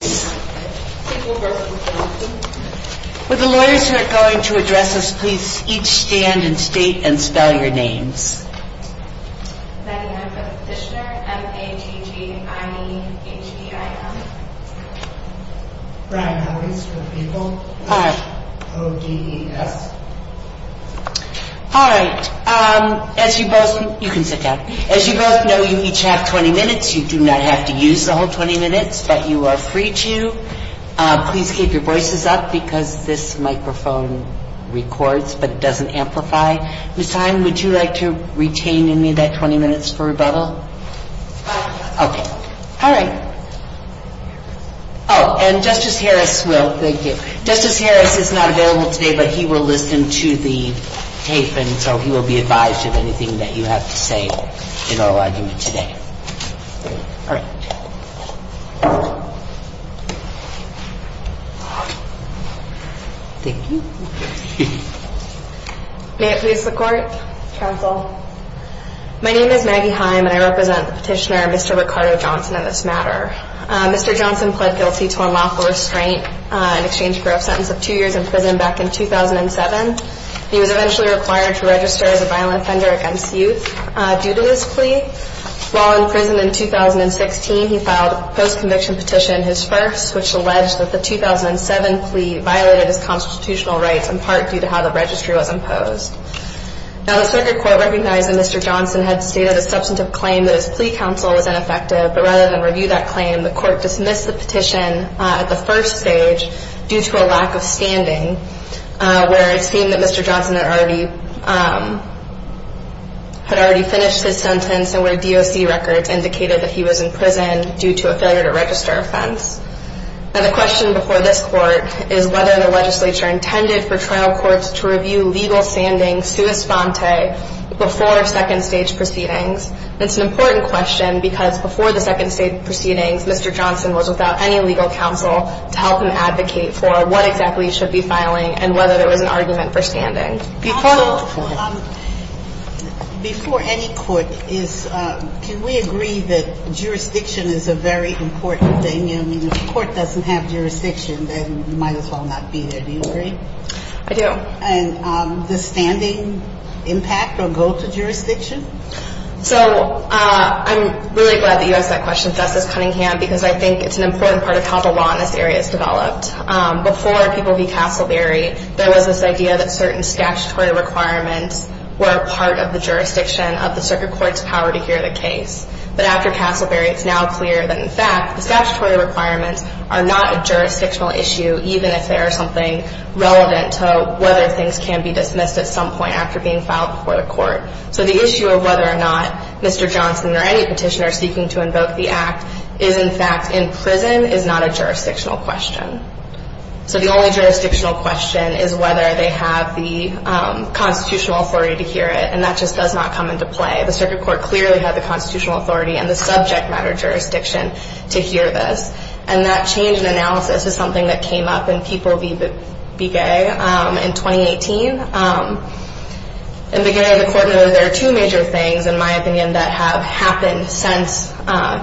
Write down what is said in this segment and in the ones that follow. With the lawyers who are going to address us, please each stand and state and spell your names. Maggie Hempel-Fishner, M-H-E-G-I-E-H-E-I-M Brian Howries, O-D-E-S Alright, as you both know you each have 20 minutes, you do not have to use the whole 20 minutes, but you are free to. Please keep your voices up because this microphone records but it doesn't amplify. Ms. Hine, would you like to retain any of that 20 minutes for rebuttal? Yes. Okay. Alright. Oh, and Justice Harris will, thank you. Justice Harris is not available today, but he will listen to the tape and so he will be advised of anything that you have to say in oral argument today. Alright. Thank you. May it please the Court, Counsel. My name is Maggie Heimpel and I represent the Petitioner, Mr. Ricardo Johnson, in this matter. Mr. Johnson pled guilty to unlawful restraint in exchange for a sentence of two years in prison back in 2007. He was eventually required to register as a violent offender against youth due to his plea. While in prison in 2016, he filed a post-conviction petition, his first, which alleged that the 2007 plea violated his constitutional rights in part due to how the registry was imposed. Now the Circuit Court recognized that Mr. Johnson had stated a substantive claim that his plea counsel was ineffective, but rather than review that claim, the Court dismissed the petition at the first stage due to a lack of standing, where it seemed that Mr. Johnson had already finished his sentence and where DOC records indicated that he was in prison due to a failure to register offense. Now the question before this Court is whether the legislature intended for trial courts to review legal standings sua sponte before second stage proceedings. It's an important question because before the second stage proceedings, Mr. Johnson was without any legal counsel to help him advocate for what exactly he should be filing and whether there was an argument for standing. Before any court, can we agree that jurisdiction is a very important thing? I mean, if the court doesn't have jurisdiction, then you might as well not be there. Do you agree? I do. And does standing impact or go to jurisdiction? So I'm really glad that you asked that question, Justice Cunningham, because I think it's an important part of how the law in this area is developed. Before people v. Castleberry, there was this idea that certain statutory requirements were a part of the jurisdiction of the Circuit Court's power to hear the case. But after Castleberry, it's now clear that in fact, the statutory requirements are not a jurisdictional issue, even if they are something relevant to whether things can be dismissed at some point after being filed before the So the issue of whether or not Mr. Johnson or any petitioner seeking to invoke the Act is in fact in prison is not a jurisdictional question. So the only jurisdictional question is whether they have the constitutional authority to hear it, and that just does not come into play. The Circuit Court clearly had the constitutional authority and the subject matter jurisdiction to hear this. And that change in analysis is something that came up in People v. Be Gay in 2018. In Be Gay, the Court noted there are two major things, in my opinion, that have happened since,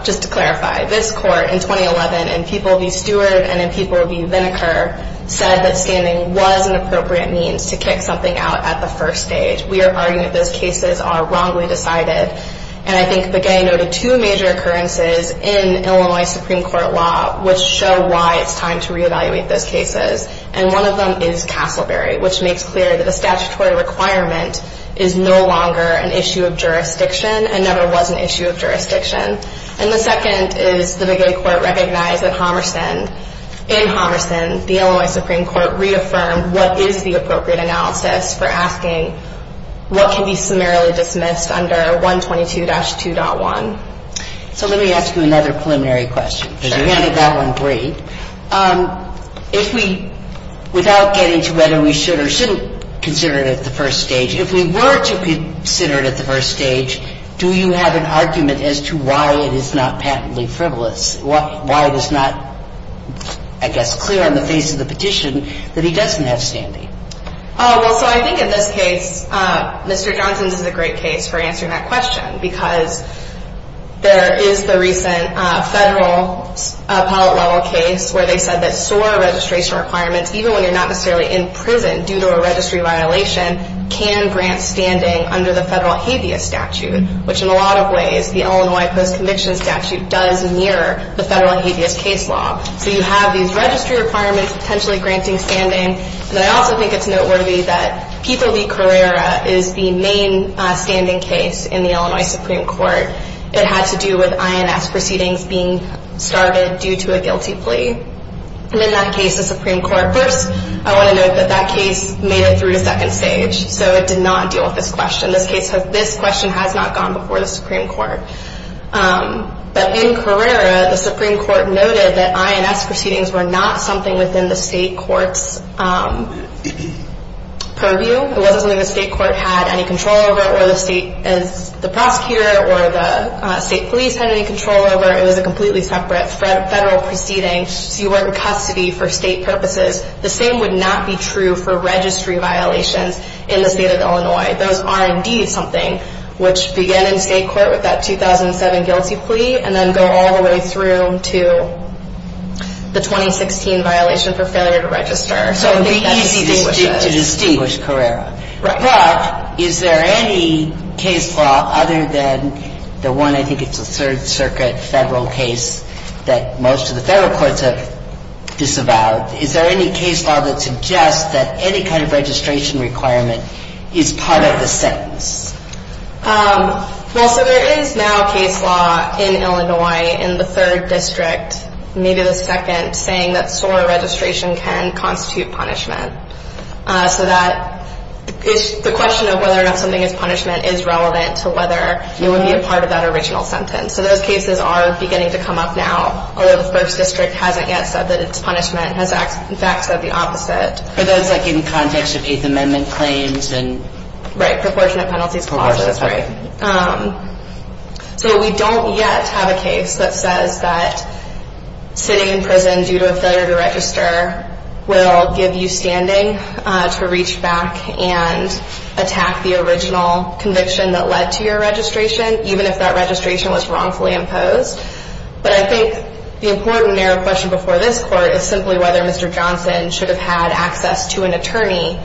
just to clarify, this Court in 2011 in People v. Stewart and in People v. Vinegar said that standing was an appropriate means to kick something out at the first stage. We are arguing that those cases are wrongly decided. And I think Be Gay noted two major occurrences in Illinois Supreme Court law which show why it's time to reevaluate those cases. And one of them is Castleberry, which makes clear that a statutory requirement is no longer an issue of jurisdiction and never was an issue of jurisdiction. And the second is the Be Gay Court recognized that in Homerson, the Illinois Supreme Court reaffirmed what is the appropriate analysis for asking what can be summarily dismissed under 122-2.1. So let me ask you another preliminary question, because you handed that one great. If we, without getting to whether we should or shouldn't consider it at the first stage, if we were to consider it at the first stage, do you have an argument as to why it is not patently frivolous, why it is not, I guess, clear on the face of the petition that he doesn't have standing? Well, so I think in this case, Mr. Johnson's is a great case for answering that question because there is the recent federal appellate level case where they said that SOAR registration requirements, even when you're not necessarily in prison due to a registry violation, can grant standing under the federal habeas statute, which in a lot of ways, the Illinois post-conviction statute does mirror the federal habeas case law. So you have these registry requirements potentially granting standing, and I also think it's the main standing case in the Illinois Supreme Court. It had to do with INS proceedings being started due to a guilty plea. And in that case, the Supreme Court, first, I want to note that that case made it through to second stage. So it did not deal with this question. This question has not gone before the Supreme Court. But in Carrera, the Supreme Court noted that INS proceedings were not something within the state court's purview. It wasn't something the state court had any control over or the state prosecutor or the state police had any control over. It was a completely separate federal proceeding. So you weren't in custody for state purposes. The same would not be true for registry violations in the state of Illinois. Those are indeed something which began in state court with that 2007 guilty plea and then go all the way through to the 2016 violation for failure to register. So it would be easy to distinguish Carrera. But is there any case law other than the one, I think it's a Third Circuit federal case that most of the federal courts have disavowed, is there any case law that suggests that any kind of registration requirement is part of the sentence? Well, so there is now a case law in Illinois in the third district, maybe the second, saying that SOAR registration can constitute punishment. So that is the question of whether or not something is punishment is relevant to whether it would be a part of that original sentence. So those cases are beginning to come up now, although the first district hasn't yet said that it's punishment. It has, in fact, said the opposite. For those, like, in the context of Eighth Amendment claims and... Right, proportionate penalties. Right. So we don't yet have a case that says that sitting in prison due to a failure to register will give you standing to reach back and attack the original conviction that led to your registration, even if that registration was wrongfully imposed. But I think the important narrow question before this court is simply whether Mr. Johnson should have had access to an attorney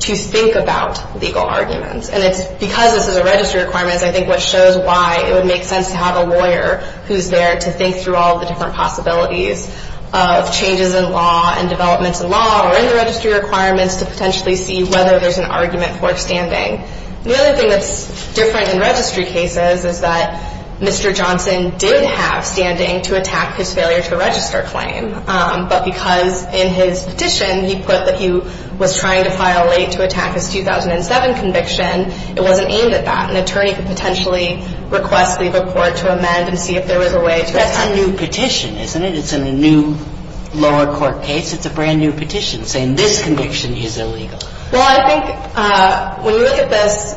to think about legal arguments. And because this is a registry requirement, I think what shows why it would make sense to have a lawyer who's there to think through all the different possibilities of changes in law and developments in law or in the registry requirements to potentially see whether there's an argument for standing. The other thing that's different in registry cases is that Mr. Johnson did have standing to attack his failure to register claim, but because in his petition he put that he was trying to file late to attack his 2007 conviction, it wasn't aimed at that. An attorney could potentially request the court to amend and see if there was a way to... That's a new petition, isn't it? It's in a new lower court case. It's a brand-new petition saying this conviction is illegal. Well, I think when you look at this,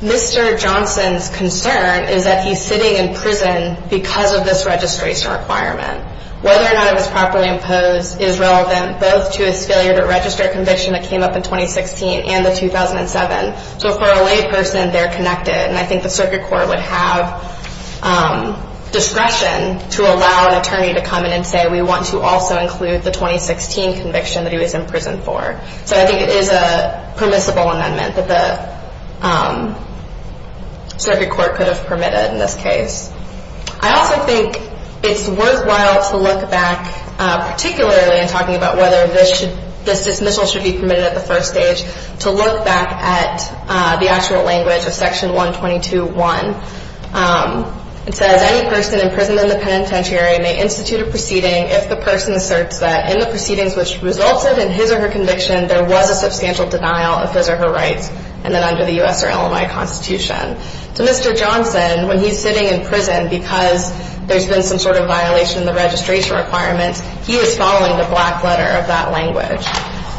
Mr. Johnson's concern is that he's sitting in prison because of this registration requirement. Whether or not it was properly imposed is relevant both to his failure to register conviction that came up in 2016 and the 2007. So for a layperson, they're connected. And I think the circuit court would have discretion to allow an attorney to come in and say, we want to also include the 2016 conviction that he was in prison for. So I think it is a permissible amendment that the circuit court could have permitted in this case. I also think it's worthwhile to look back, particularly in talking about whether this dismissal should be permitted at the first stage, to look back at the actual language of Section 122.1. It says, any person imprisoned in the penitentiary may institute a proceeding if the person asserts that in the proceedings which resulted in his or her conviction there was a substantial denial of his or her rights and then under the U.S. or LMI Constitution. To Mr. Johnson, when he's sitting in prison because there's been some sort of violation of the registration requirements, he was following the black letter of that language.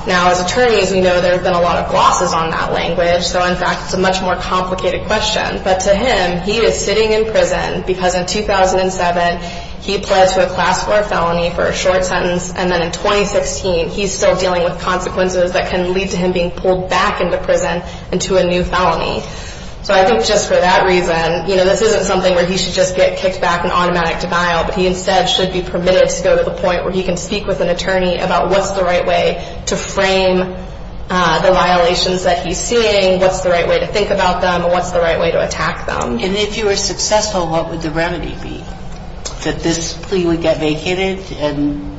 Now, as attorneys, we know there have been a lot of glosses on that language. So in fact, it's a much more complicated question. But to him, he was sitting in prison because in 2007, he pled to a class 4 felony for a short sentence. And then in 2016, he's still dealing with consequences that can lead to him being pulled back into prison and to a new felony. So I think just for that reason, you know, this isn't something where he should just get kicked back in automatic denial. But he instead should be permitted to go to the point where he can speak with an attorney about what's the right way to frame the violations that he's seeing, what's the right way to think about them, and what's the right way to attack them. And if you were successful, what would the remedy be? That this plea would get vacated and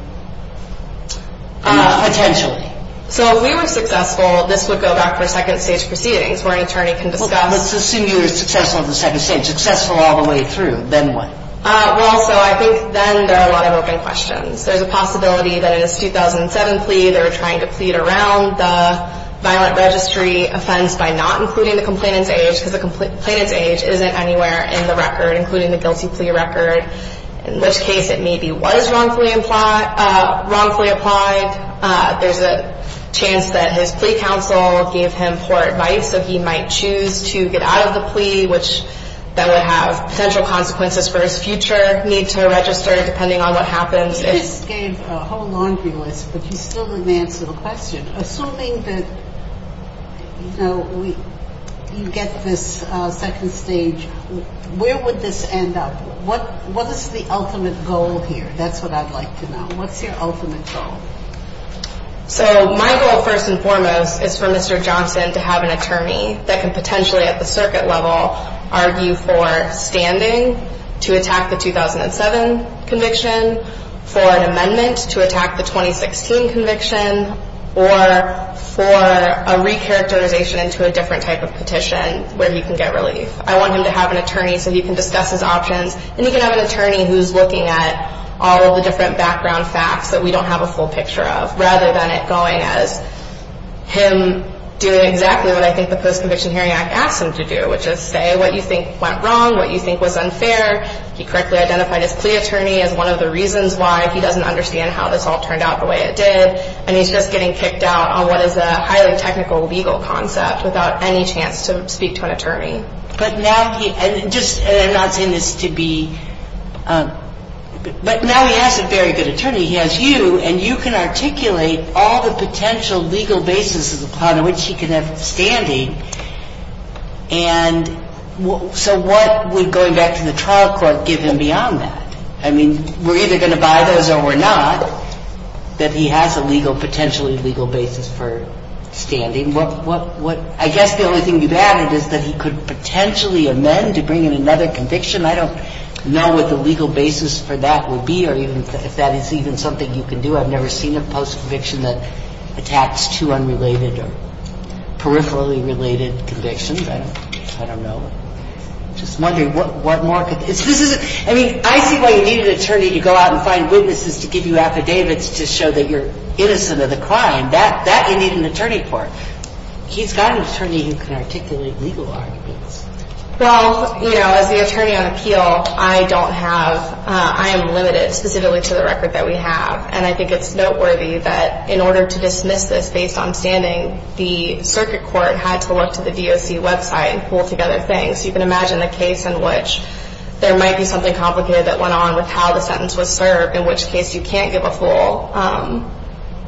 potentially? So if we were successful, this would go back for second stage proceedings where an attorney can discuss. Well, let's assume you were successful in the second stage. Successful all the way through. Then what? Well, so I think then there are a lot of open questions. There's a possibility that in his 2007 plea, they were trying to plead around the violent registry offense by not including the complainant's age because the complainant's age isn't anywhere in the record, including the guilty plea record, in which case it maybe was wrongfully implied, wrongfully applied. There's a chance that his plea counsel gave him poor advice that he might choose to get out of the plea, which that would have potential consequences for his future need to register, depending on what happens. You just gave a whole laundry list, but you still didn't answer the question. Assuming that, you know, you get this second stage, where would this end up? What is the ultimate goal here? That's what I'd like to know. What's your ultimate goal? So my goal, first and foremost, is for Mr. Johnson to have an attorney that can potentially at the circuit level argue for standing to attack the 2007 conviction, for an amendment to attack the 2016 conviction, or for a re-characterization into a different type of petition where he can get relief. I want him to have an attorney so he can discuss his options, and he can have an a full picture of, rather than it going as him doing exactly what I think the Post-Conviction Hearing Act asked him to do, which is say what you think went wrong, what you think was unfair. He correctly identified his plea attorney as one of the reasons why he doesn't understand how this all turned out the way it did. And he's just getting kicked out on what is a highly technical legal concept without any chance to speak to an attorney. But now he has a very good attorney. He has you, and you can articulate all the potential legal basis upon which he can have standing. And so what would going back to the trial court give him beyond that? I mean, we're either going to buy those or we're not, that he has a legal, potentially legal basis for standing. I guess the only thing you've added is that he could potentially amend to bring in another conviction. I don't know what the legal basis for that would be or if that is even something you can do. I've never seen a post-conviction that attacks two unrelated or peripherally related convictions. I don't know. I'm just wondering what more. I mean, I see why you need an attorney to go out and find witnesses to give you affidavits to show that you're innocent of the crime. That you need an attorney for. He's got an attorney who can articulate legal arguments. Well, you know, as the attorney on appeal, I don't have – I am limited specifically to the record that we have. And I think it's noteworthy that in order to dismiss this based on standing, the circuit court had to look to the DOC website and pull together things. You can imagine a case in which there might be something complicated that went on with how the sentence was served, in which case you can't give a full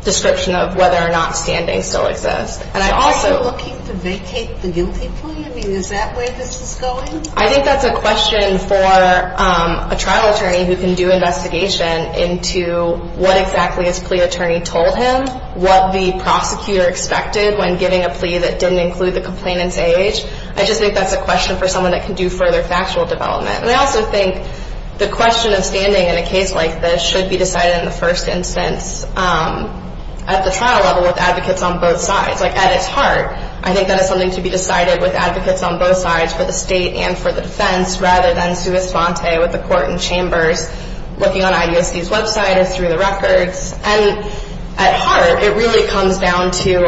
description of whether or not standing still exists. Are you looking to vacate the guilty plea? I mean, is that where this is going? I think that's a question for a trial attorney who can do investigation into what exactly his plea attorney told him, what the prosecutor expected when giving a plea that didn't include the complainant's age. I just think that's a question for someone that can do further factual development. And I also think the question of standing in a case like this should be decided in the first instance at the trial level with advocates on both sides. Like, at its heart, I think that is something to be decided with advocates on both sides for the state and for the defense rather than sua sponte with the court and chambers, looking on IDOC's website and through the records. And at heart, it really comes down to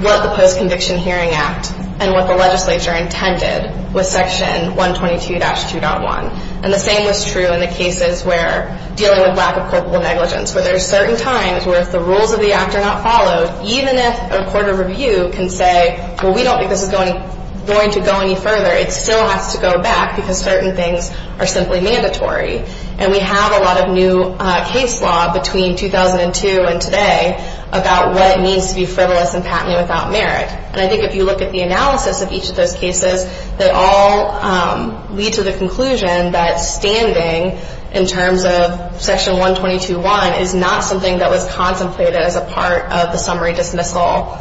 what the Post-Conviction Hearing Act and what the legislature intended with Section 122-2.1. And the same was true in the cases where dealing with lack of corporal negligence, where there are certain times where if the rules of the act are not followed, even if a court of review can say, well, we don't think this is going to go any further, it still has to go back because certain things are simply mandatory. And we have a lot of new case law between 2002 and today about what it means to be frivolous and patently without merit. And I think if you look at the analysis of each of those cases, they all lead to the conclusion that standing in terms of Section 122-1 is not something that was contemplated as a part of the summary dismissal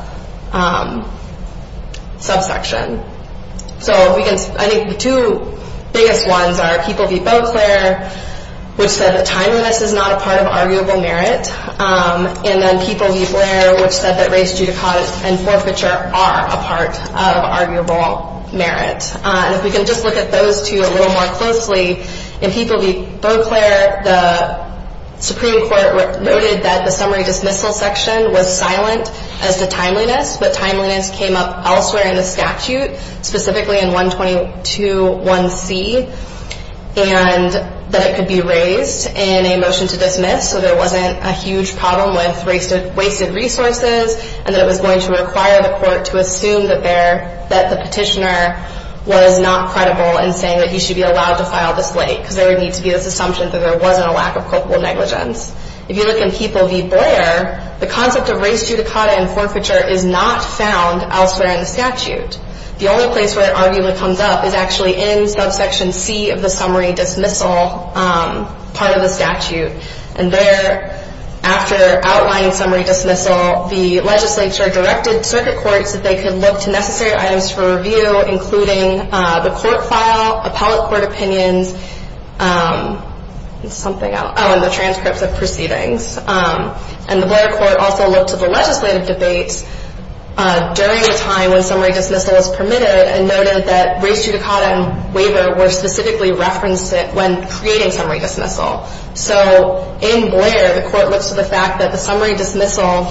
subsection. So I think the two biggest ones are People v. Beauclair, which said that timeliness is not a part of arguable merit, and then People v. Blair, which said that race, judicata, and forfeiture are a part of arguable merit. And if we can just look at those two a little more closely, in People v. Beauclair, the Supreme Court noted that the summary dismissal section was silent as to timeliness, but timeliness came up elsewhere in the statute, specifically in 122-1c, and that it could be raised in a motion to dismiss so there wasn't a huge problem with wasted resources, and that it was going to require the court to assume that the petitioner was not credible in saying that he should be allowed to file this late, because there would need to be this assumption that there wasn't a lack of culpable negligence. If you look in People v. Blair, the concept of race, judicata, and forfeiture is not found elsewhere in the statute. The only place where it arguably comes up is actually in subsection c of the summary dismissal part of the statute. And there, after outlining summary dismissal, the legislature directed circuit courts that they could look to necessary items for review, including the court file, appellate court opinions, and the transcripts of proceedings. And the Blair court also looked at the legislative debates during the time when summary dismissal was permitted and noted that race, judicata, and waiver were specifically referenced when creating summary dismissal. So in Blair, the court looks to the fact that the summary dismissal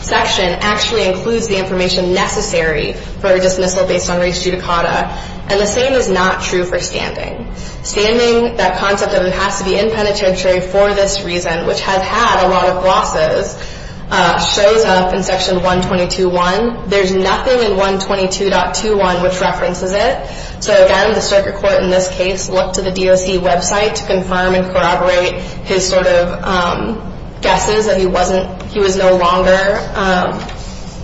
section actually includes the information necessary for a dismissal based on race, judicata, and the same is not true for standing. Standing, that concept that it has to be in penitentiary for this reason, which has had a lot of losses, shows up in section 122.1. There's nothing in 122.21 which references it. So again, the circuit court in this case looked to the DOC website to confirm and corroborate his sort of guesses that he was no longer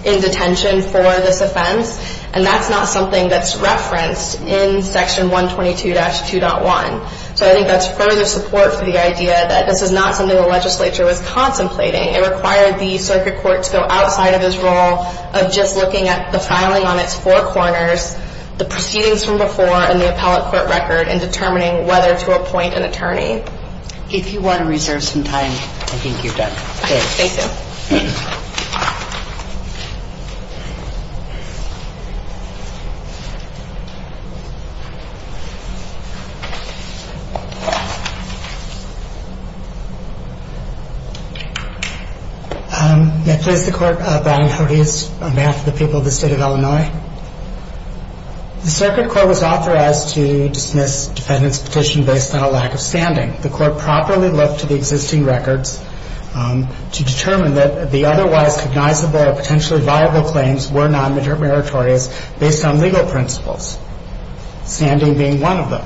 in detention for this offense. And that's not something that's referenced in section 122-2.1. So I think that's further support for the idea that this is not something the legislature was contemplating. It required the circuit court to go outside of his role of just looking at the filing on its four corners, the proceedings from before, and the appellate court record in determining whether to appoint an attorney. If you want to reserve some time, I think you've done. Thank you. May I please the Court, Brian Hodes, on behalf of the people of the State of Illinois. The circuit court was authorized to dismiss defendant's petition based on a lack of standing. The court properly looked to the existing records to determine that the otherwise cognizable or potentially viable claims were non-meritorious based on legal principles, standing being one of them.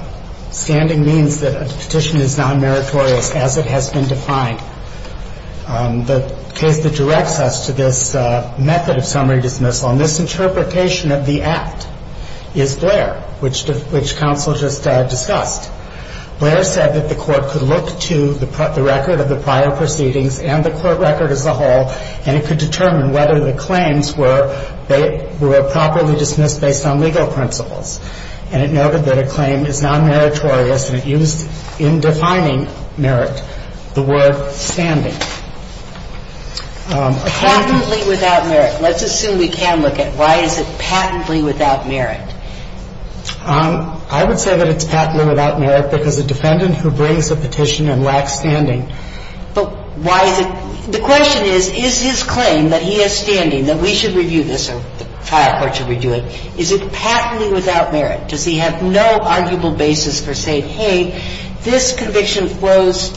Standing means that a petition is non-meritorious as it has been defined. The case that directs us to this method of summary dismissal and this interpretation of the act is Blair, which counsel just discussed. Blair said that the court could look to the record of the prior proceedings and the court record as a whole, and it could determine whether the claims were properly dismissed based on legal principles. And it noted that a claim is non-meritorious, and it used in defining merit the word standing. And it noted that the court could look to the record of the prior proceedings based on legal principles, standing being one of them. Patently without merit. Let's assume we can look at why is it patently without merit. I would say that it's patently without merit because a defendant who brings a petition and lacks standing. But why is it? The question is, is his claim that he has standing, that we should review this or the trial court should review it, is it patently without merit? Does he have no arguable basis for saying, hey, this conviction flows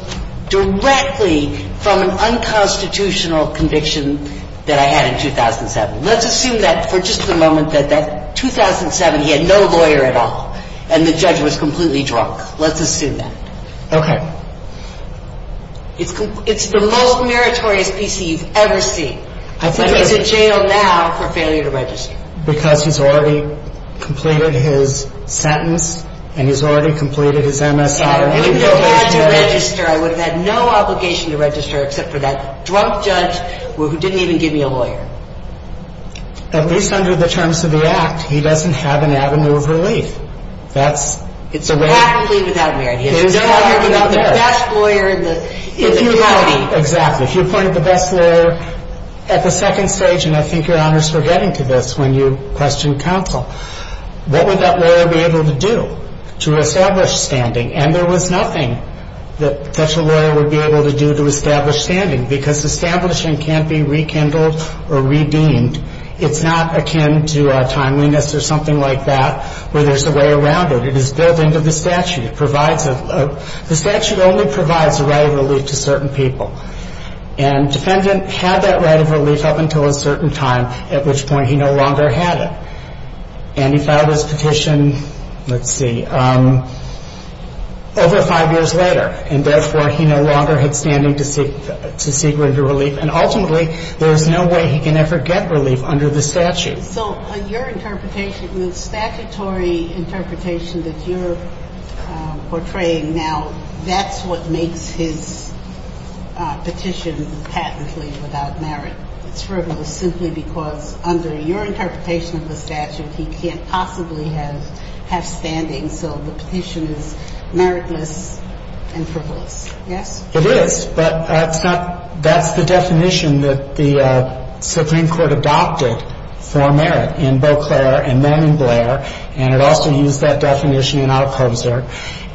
directly from an unconstitutional conviction that I had in 2007? Let's assume that for just a moment that that 2007 he had no lawyer at all and the judge was completely drunk. Let's assume that. Okay. It's the most meritorious PC you've ever seen. I think he's in jail now for failure to register. Because he's already completed his sentence and he's already completed his MSI. I would have had to register. I would have had no obligation to register except for that drunk judge who didn't even give me a lawyer. At least under the terms of the Act, he doesn't have an avenue of relief. That's the way. It's patently without merit. It is not. He's the best lawyer in the county. Exactly. If you appointed the best lawyer at the second stage, and I think Your Honor is forgetting to this when you questioned counsel, what would that lawyer be able to do to establish standing? And there was nothing that such a lawyer would be able to do to establish standing. Because establishing can't be rekindled or redeemed. It's not akin to timeliness or something like that where there's a way around it. It is built into the statute. It provides a the statute only provides a right of relief to certain people. And defendant had that right of relief up until a certain time, at which point he no longer had it. And he filed his petition, let's see, over five years later. And therefore, he no longer had standing to seek relief. And ultimately, there's no way he can ever get relief under the statute. So your interpretation, the statutory interpretation that you're portraying now, that's what makes his petition patently without merit. It's frivolous simply because under your interpretation of the statute, he can't possibly have standing. So the petition is meritless and frivolous. Yes? It is. But that's the definition that the Supreme Court adopted for merit in Beauclair and then in Blair. And it also used that definition in Alcoser.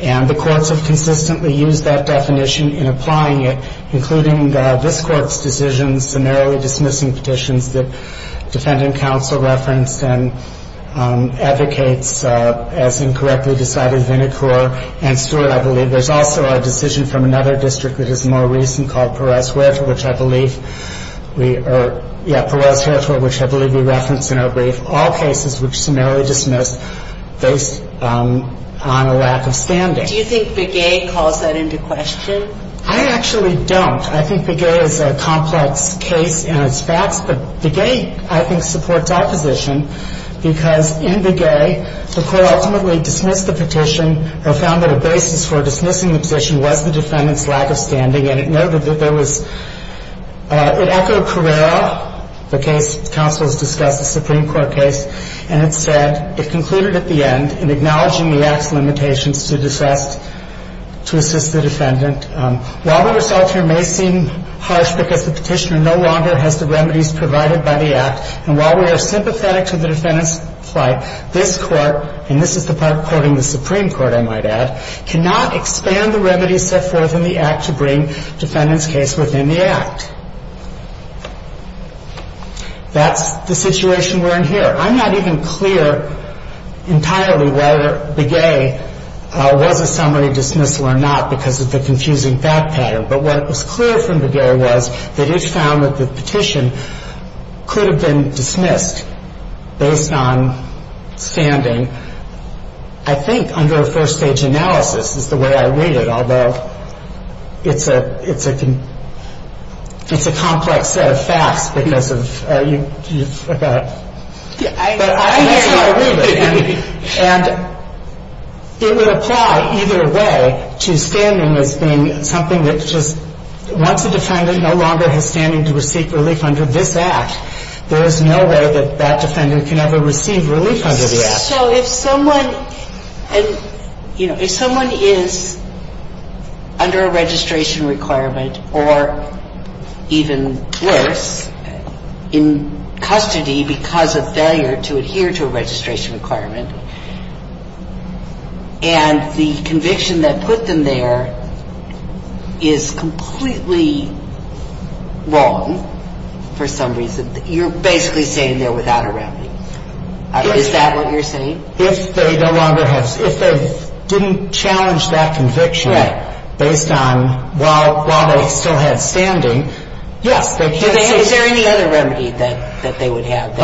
And the courts have consistently used that definition in applying it, including this Court's decision summarily dismissing petitions that defendant counsel referenced and advocates, as incorrectly decided, Vinecourt and Stewart, I believe. There's also a decision from another district that is more recent called Perot's Wherefore, which I believe we referenced in our brief, all cases which are summarily dismissed based on a lack of standing. Do you think Begay calls that into question? I actually don't. I think Begay is a complex case in its facts. But Begay, I think, supports opposition because in Begay, the Court ultimately dismissed the petition or found that a basis for dismissing the petition was the defendant's lack of standing. And it noted that there was, it echoed Carrera, the case counsel has discussed, the Supreme Court case. And it said, it concluded at the end in acknowledging the Act's limitations to assist the defendant. While the result here may seem harsh because the petitioner no longer has the remedies provided by the Act, and while we are sympathetic to the defendant's Supreme Court, I might add, cannot expand the remedies set forth in the Act to bring defendant's case within the Act. That's the situation we're in here. I'm not even clear entirely whether Begay was a summary dismissal or not because of the confusing fact pattern. But what was clear from Begay was that it found that the petition could have been a summary dismissal. And I think under a first-stage analysis is the way I read it, although it's a complex set of facts because of you forgot. But I think that's how I read it. And it would apply either way to standing as being something that just, once a case is brought before the Supreme Court, that the defendant can have a received relief under the Act. So if someone is under a registration requirement, or even worse, in custody because of failure to adhere to a registration requirement, and the conviction that put them there is completely wrong for some reason, you're basically saying they're without a remedy. Is that what you're saying? If they didn't challenge that conviction based on while they still had standing, yes. Is there any other remedy that they would have?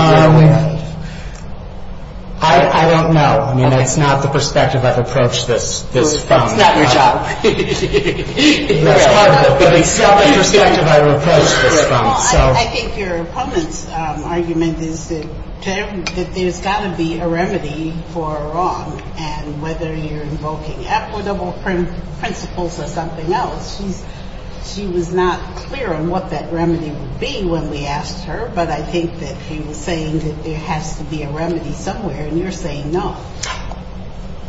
I don't know. I mean, that's not the perspective I've approached this from. It's not your job. That's part of it. But it's not the perspective I've approached this from. Well, I think your opponent's argument is that there's got to be a remedy for a wrong, and whether you're invoking equitable principles or something else. She was not clear on what that remedy would be when we asked her, but I think that she was saying that there has to be a remedy somewhere, and you're saying no.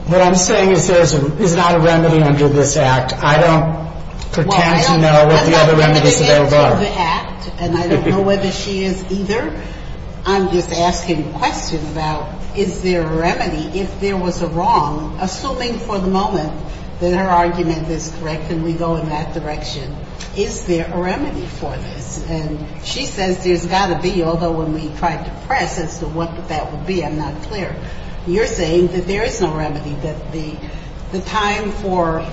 What I'm saying is there is not a remedy under this Act. I don't pretend to know what the other remedies that there are. I don't know the Act, and I don't know whether she is either. I'm just asking questions about is there a remedy if there was a wrong, assuming for the moment that her argument is correct and we go in that direction. Is there a remedy for this? And she says there's got to be, although when we tried to press as to what that would be, I'm not clear. You're saying that there is no remedy, that the time for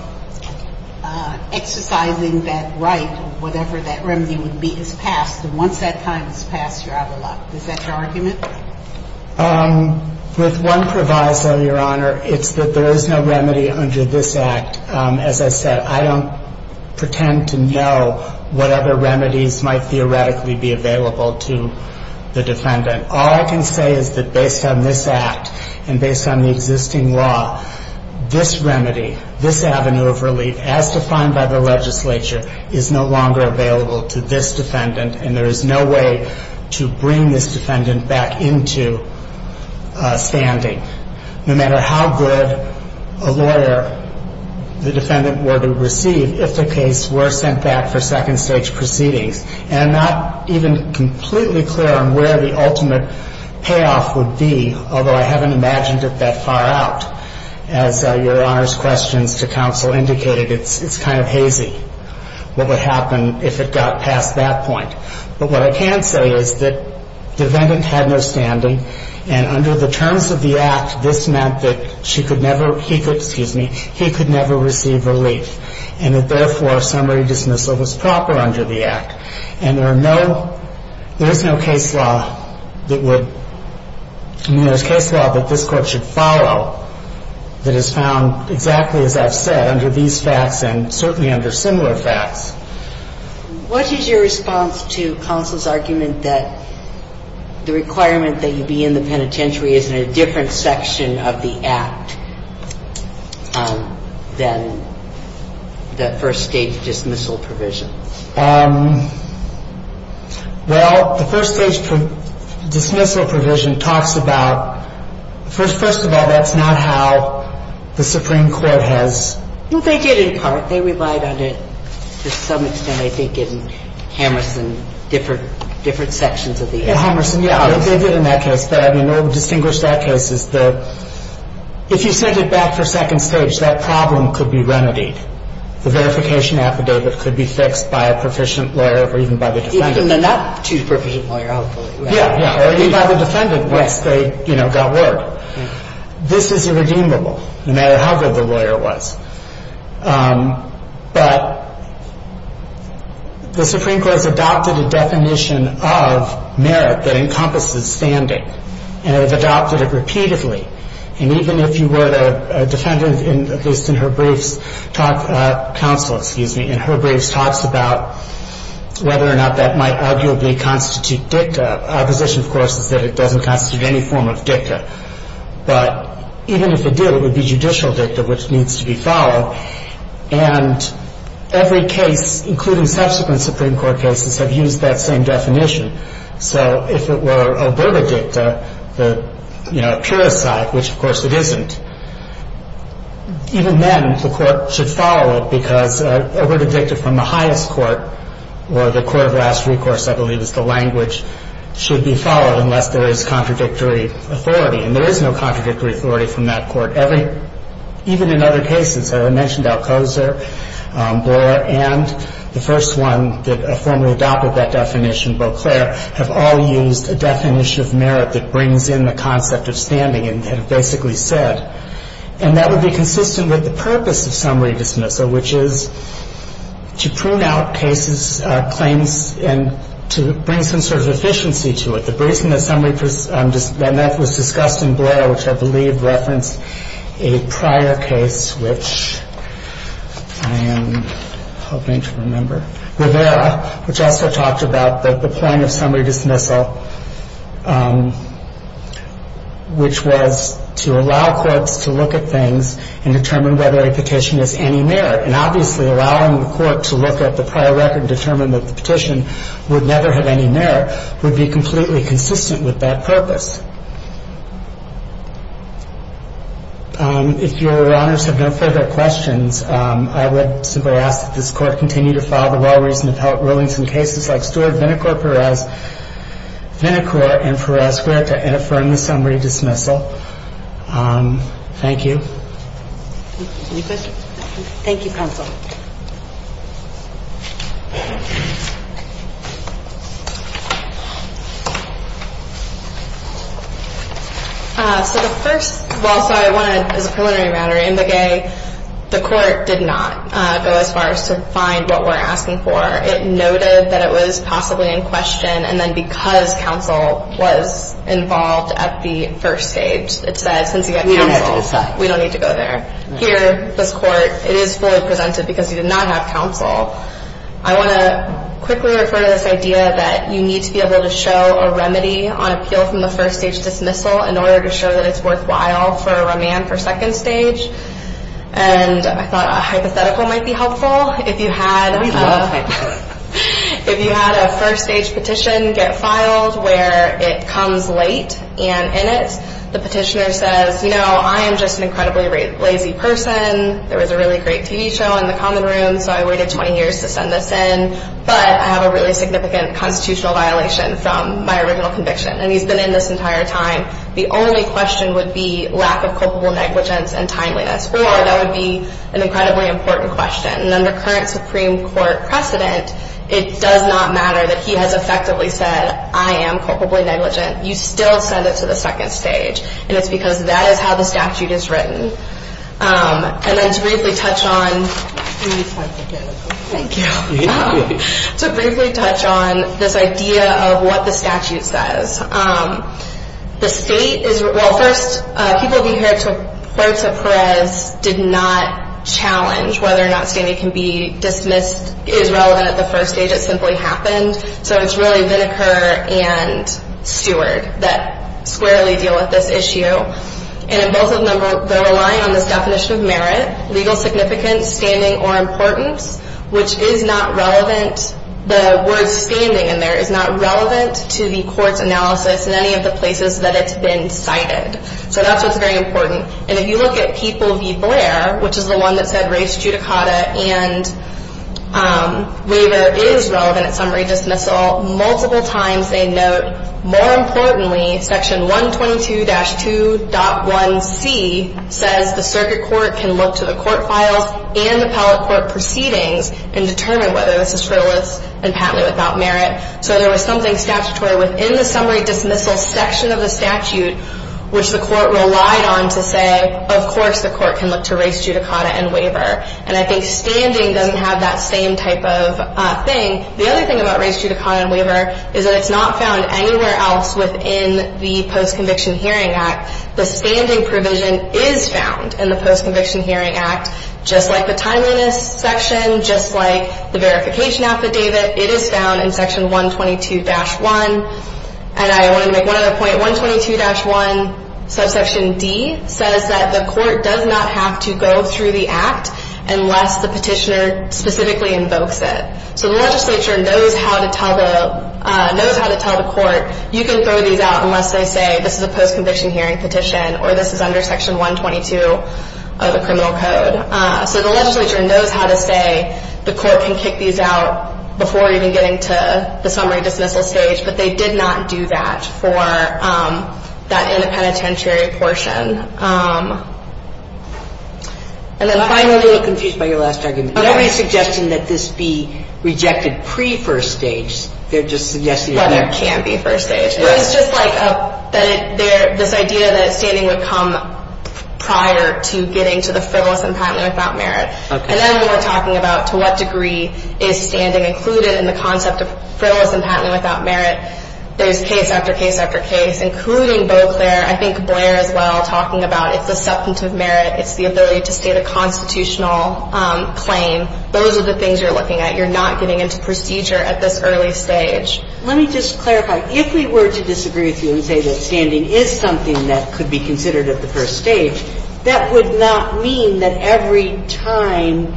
exercising that right, whatever that remedy would be, is passed, and once that time is passed, you're out of luck. Is that your argument? With one proviso, Your Honor, it's that there is no remedy under this Act. As I said, I don't pretend to know what other remedies might theoretically be available to the defendant. All I can say is that based on this Act and based on the existing law, this remedy, this avenue of relief, as defined by the legislature, is no longer available to this defendant, and there is no way to bring this defendant back into standing no matter how good a lawyer the defendant were to receive if the case were sent back for second stage proceedings. And I'm not even completely clear on where the ultimate payoff would be, although I haven't imagined it that far out. As Your Honor's questions to counsel indicated, it's kind of hazy what would happen if it got past that point. But what I can say is that the defendant had no standing, and under the terms of the Act, this meant that she could never, he could, excuse me, he could never receive relief, and that, therefore, summary dismissal was proper under the Act. And there are no, there is no case law that would, I mean, there's case law that this There's no case law that has found, exactly as I've said, under these facts and certainly under similar facts. What is your response to counsel's argument that the requirement that you be in the penitentiary is in a different section of the Act than the first stage dismissal provision? Well, the first stage dismissal provision talks about, first of all, that's not how the Supreme Court has Well, they did in part. They relied on it to some extent, I think, in Hammerson, different sections of the Act. In Hammerson, yeah, they did in that case. But I mean, what would distinguish that case is that if you sent it back for second stage, that problem could be remedied. The verification affidavit could be fixed. And it could be fixed by a proficient lawyer or even by the defendant. Even the not too proficient lawyer, I'll believe. Yeah, yeah. Or even by the defendant once they got word. This is irredeemable, no matter how good the lawyer was. But the Supreme Court has adopted a definition of merit that encompasses standing. And it has adopted it repeatedly. And even if you were a defendant, at least in her briefs, counsel, excuse me, in her briefs about whether or not that might arguably constitute dicta, our position, of course, is that it doesn't constitute any form of dicta. But even if it did, it would be judicial dicta, which needs to be followed. And every case, including subsequent Supreme Court cases, have used that same definition. So if it were oberta dicta, the, you know, pure aside, which, of course, it isn't, even then the court should follow it because oberta dicta from the highest court, or the court of last recourse, I believe is the language, should be followed unless there is contradictory authority. And there is no contradictory authority from that court. Even in other cases, I mentioned Alcoser, Blore, and the first one that formally adopted that definition, Beauclair, have all used a definition of merit that brings in the concept of standing and have basically said, and that would be consistent with the purpose of summary dismissal, which is to prune out cases, claims, and to bring some sort of efficiency to it. The reason that summary, and that was discussed in Blore, which I believe referenced a prior case, which I am hoping to remember, Rivera, which also talked about the point of summary dismissal, which was to allow courts to look at things and determine whether a petition has any merit. And obviously, allowing the court to look at the prior record and determine that the petition would never have any merit would be completely consistent with that purpose. If Your Honors have no further questions, I would simply ask that this Court continue to file the law reason to help rulings in cases like Stewart, Vinicor, Perez, Vinicor, and Perez where to affirm the summary dismissal. Thank you. Any questions? Thank you, counsel. So the first, well, sorry, I want to, as a preliminary matter, in the gay, the court did not go as far as to find what we're asking for. It noted that it was possibly in question, and then because counsel was involved at the first stage, it said since you got counsel, we don't need to go there. Here, this Court, it is fully presented because you did not have counsel. I want to quickly refer to this idea that you need to be able to show a remedy on appeal from the first stage dismissal in order to show that it's worthwhile for remand for second stage. And I thought a hypothetical might be helpful. If you had a first stage petition get filed where it comes late and in it, the petitioner says, you know, I am just an incredibly lazy person. There was a really great TV show in the common room, so I waited 20 years to send this in, but I have a really significant constitutional violation from my original conviction. And he's been in this entire time. The only question would be lack of culpable negligence and timeliness, or that would be an incredibly important question. And under current Supreme Court precedent, it does not matter that he has effectively said, I am culpably negligent. You still send it to the second stage, and it's because that is how the statute is written. And then to briefly touch on this idea of what the statute says. The state is, well, first, people be heard to courts of Perez did not challenge whether or not standing can be dismissed is relevant at the first stage. It simply happened. So it's really Vineker and Stewart that squarely deal with this issue. And in both of them, they're relying on this definition of merit, legal significance, standing, or importance, which is not relevant. The word standing in there is not relevant to the court's analysis in any of the places that it's been cited. So that's what's very important. And if you look at People v. Blair, which is the one that said race, judicata, and waiver is relevant at summary dismissal, multiple times they note, more importantly, Section 122-2.1c says the circuit court can look to the court files and the appellate court proceedings and determine whether this is frivolous and patently without merit. So there was something statutory within the summary dismissal section of the statute, which the court relied on to say, of course the court can look to race, judicata, and waiver. And I think standing doesn't have that same type of thing. The other thing about race, judicata, and waiver is that it's not found anywhere else within the Post-Conviction Hearing Act. The standing provision is found in the Post-Conviction Hearing Act, just like the timeliness section, just like the verification affidavit. It is found in Section 122-1. And I want to make one other point. 122-1 subsection D says that the court does not have to go through the act unless the petitioner specifically invokes it. So the legislature knows how to tell the court you can throw these out unless they say this is a post-conviction hearing petition or this is under Section 122 of the criminal code. So the legislature knows how to say the court can kick these out before even getting to the summary dismissal stage, but they did not do that for that interpenitentiary portion. And then finally — I'm a little confused by your last argument. There isn't any suggestion that this be rejected pre-first stage. They're just suggesting — Well, there can't be first stage. It's just like this idea that standing would come prior to getting to the frivolous and patently without merit. And then when we're talking about to what degree is standing included in the concept of frivolous and patently without merit, there's case after case after case, including Beauclair. I think Blair, as well, talking about it's a substantive merit. It's the ability to state a constitutional claim. Those are the things you're looking at. You're not getting into procedure at this early stage. Let me just clarify. If we were to disagree with you and say that standing is something that could be considered at the first stage, that would not mean that every time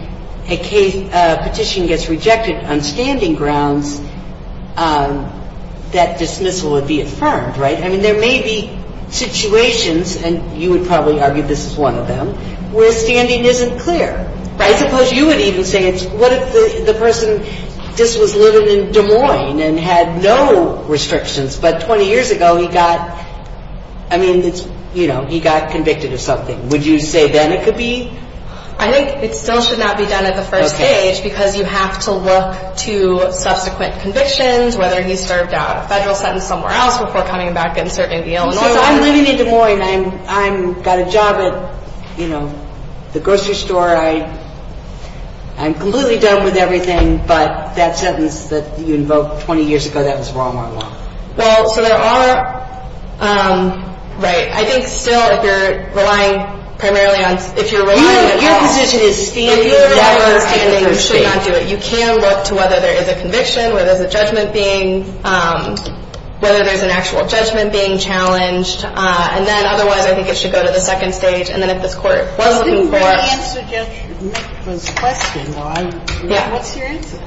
a petition gets rejected on standing grounds, that dismissal would be affirmed, right? I mean, there may be situations, and you would probably argue this is one of them, where standing isn't clear. Right. I suppose you would even say it's what if the person just was living in Des Moines and had no restrictions, but 20 years ago he got — I mean, you know, he got convicted of something. Would you say then it could be — I think it still should not be done at the first stage because you have to look to subsequent convictions, whether he served out a federal sentence somewhere else before coming back and serving in Illinois. So I'm living in Des Moines. I've got a job at, you know, the grocery store. I'm completely done with everything, but that sentence that you invoked 20 years ago, that was wrong all along. Well, so there are — right. I think still if you're relying primarily on — if you're relying on — Your position is standing. If you rely on standing, you should not do it. You can look to whether there is a conviction, whether there's a judgment being — whether there's an actual judgment being challenged. And then otherwise, I think it should go to the second stage. And then if this Court was looking for — You didn't really answer Judge Mitma's question, though. I — Yeah. What's your answer?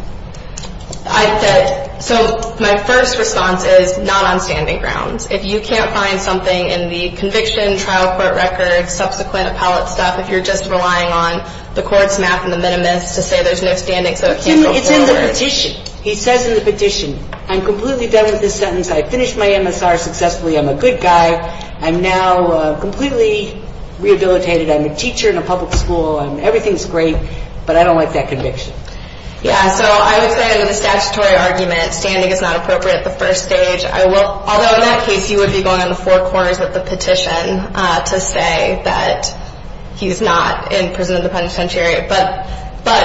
I said — so my first response is not on standing grounds. If you can't find something in the conviction, trial court records, subsequent appellate stuff, if you're just relying on the court's math and the minimus to say there's no standing so it can't go forward. It's in the petition. He says in the petition. I'm completely done with this sentence. I finished my MSR successfully. I'm a good guy. I'm now completely rehabilitated. I'm a teacher in a public school. Everything's great, but I don't like that conviction. Yeah, so I would say under the statutory argument, standing is not appropriate at the first stage. Although in that case, you would be going on the four corners of the petition to say that he's not in prison in the penitentiary. But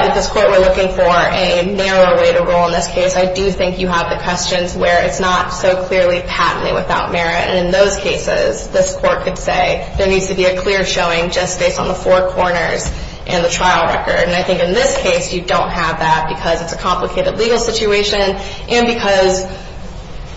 if this Court were looking for a narrower way to roll in this case, I do think you have the questions where it's not so clearly patently without merit. And in those cases, this Court could say there needs to be a clear showing just based on the four corners and the trial record. And I think in this case, you don't have that because it's a complicated legal situation and because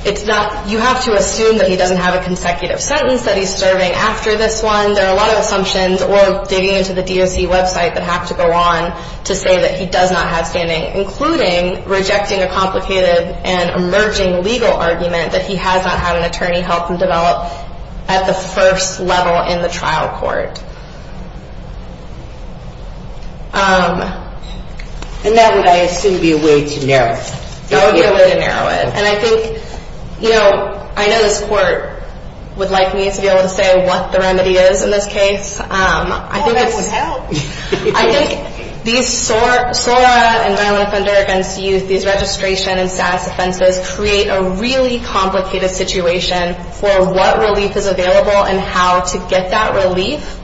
you have to assume that he doesn't have a consecutive sentence that he's serving after this one. There are a lot of assumptions or digging into the DOC website that have to go on to say that he does not have standing, including rejecting a complicated and emerging legal argument that he has not had an attorney help him develop at the first level in the trial court. And that would, I assume, be a way to narrow it. That would be a way to narrow it. And I think, you know, I know this Court would like me to be able to say what the remedy is in this case. Oh, that would help. I think these SORA and violent offender against youth, these registration and status offenses, create a really complicated situation for what relief is available and how to get that relief.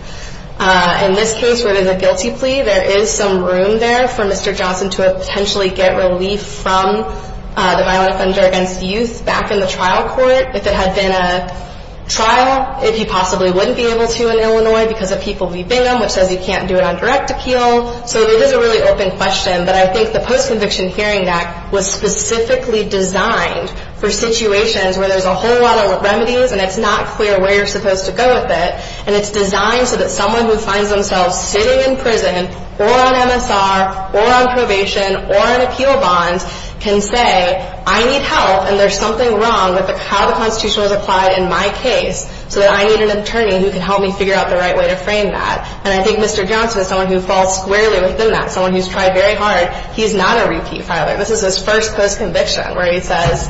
In this case, where it is a guilty plea, there is some room there for Mr. Johnson to potentially get relief from the violent offender against youth back in the trial court. If it had been a trial, he possibly wouldn't be able to in Illinois because of people v. Bingham, which says he can't do it on direct appeal. So it is a really open question, but I think the Post-Conviction Hearing Act was specifically designed for situations where there's a whole lot of remedies and it's not clear where you're supposed to go with it. And it's designed so that someone who finds themselves sitting in prison or on MSR or on probation or on appeal bonds can say, I need help and there's something wrong with how the Constitution was applied in my case, so that I need an attorney who can help me figure out the right way to frame that. And I think Mr. Johnson is someone who falls squarely within that, someone who's tried very hard. He's not a repeat filer. This is his first post-conviction where he says,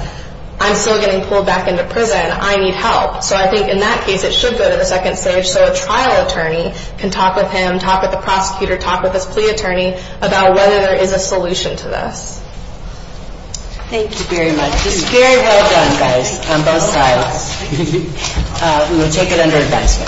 I'm still getting pulled back into prison. I need help. So I think in that case, it should go to the second stage so a trial attorney can talk with him, talk with the prosecutor, talk with his plea attorney about whether there is a solution to this. Thank you very much. This is very well done, guys, on both sides. We will take it under advisement.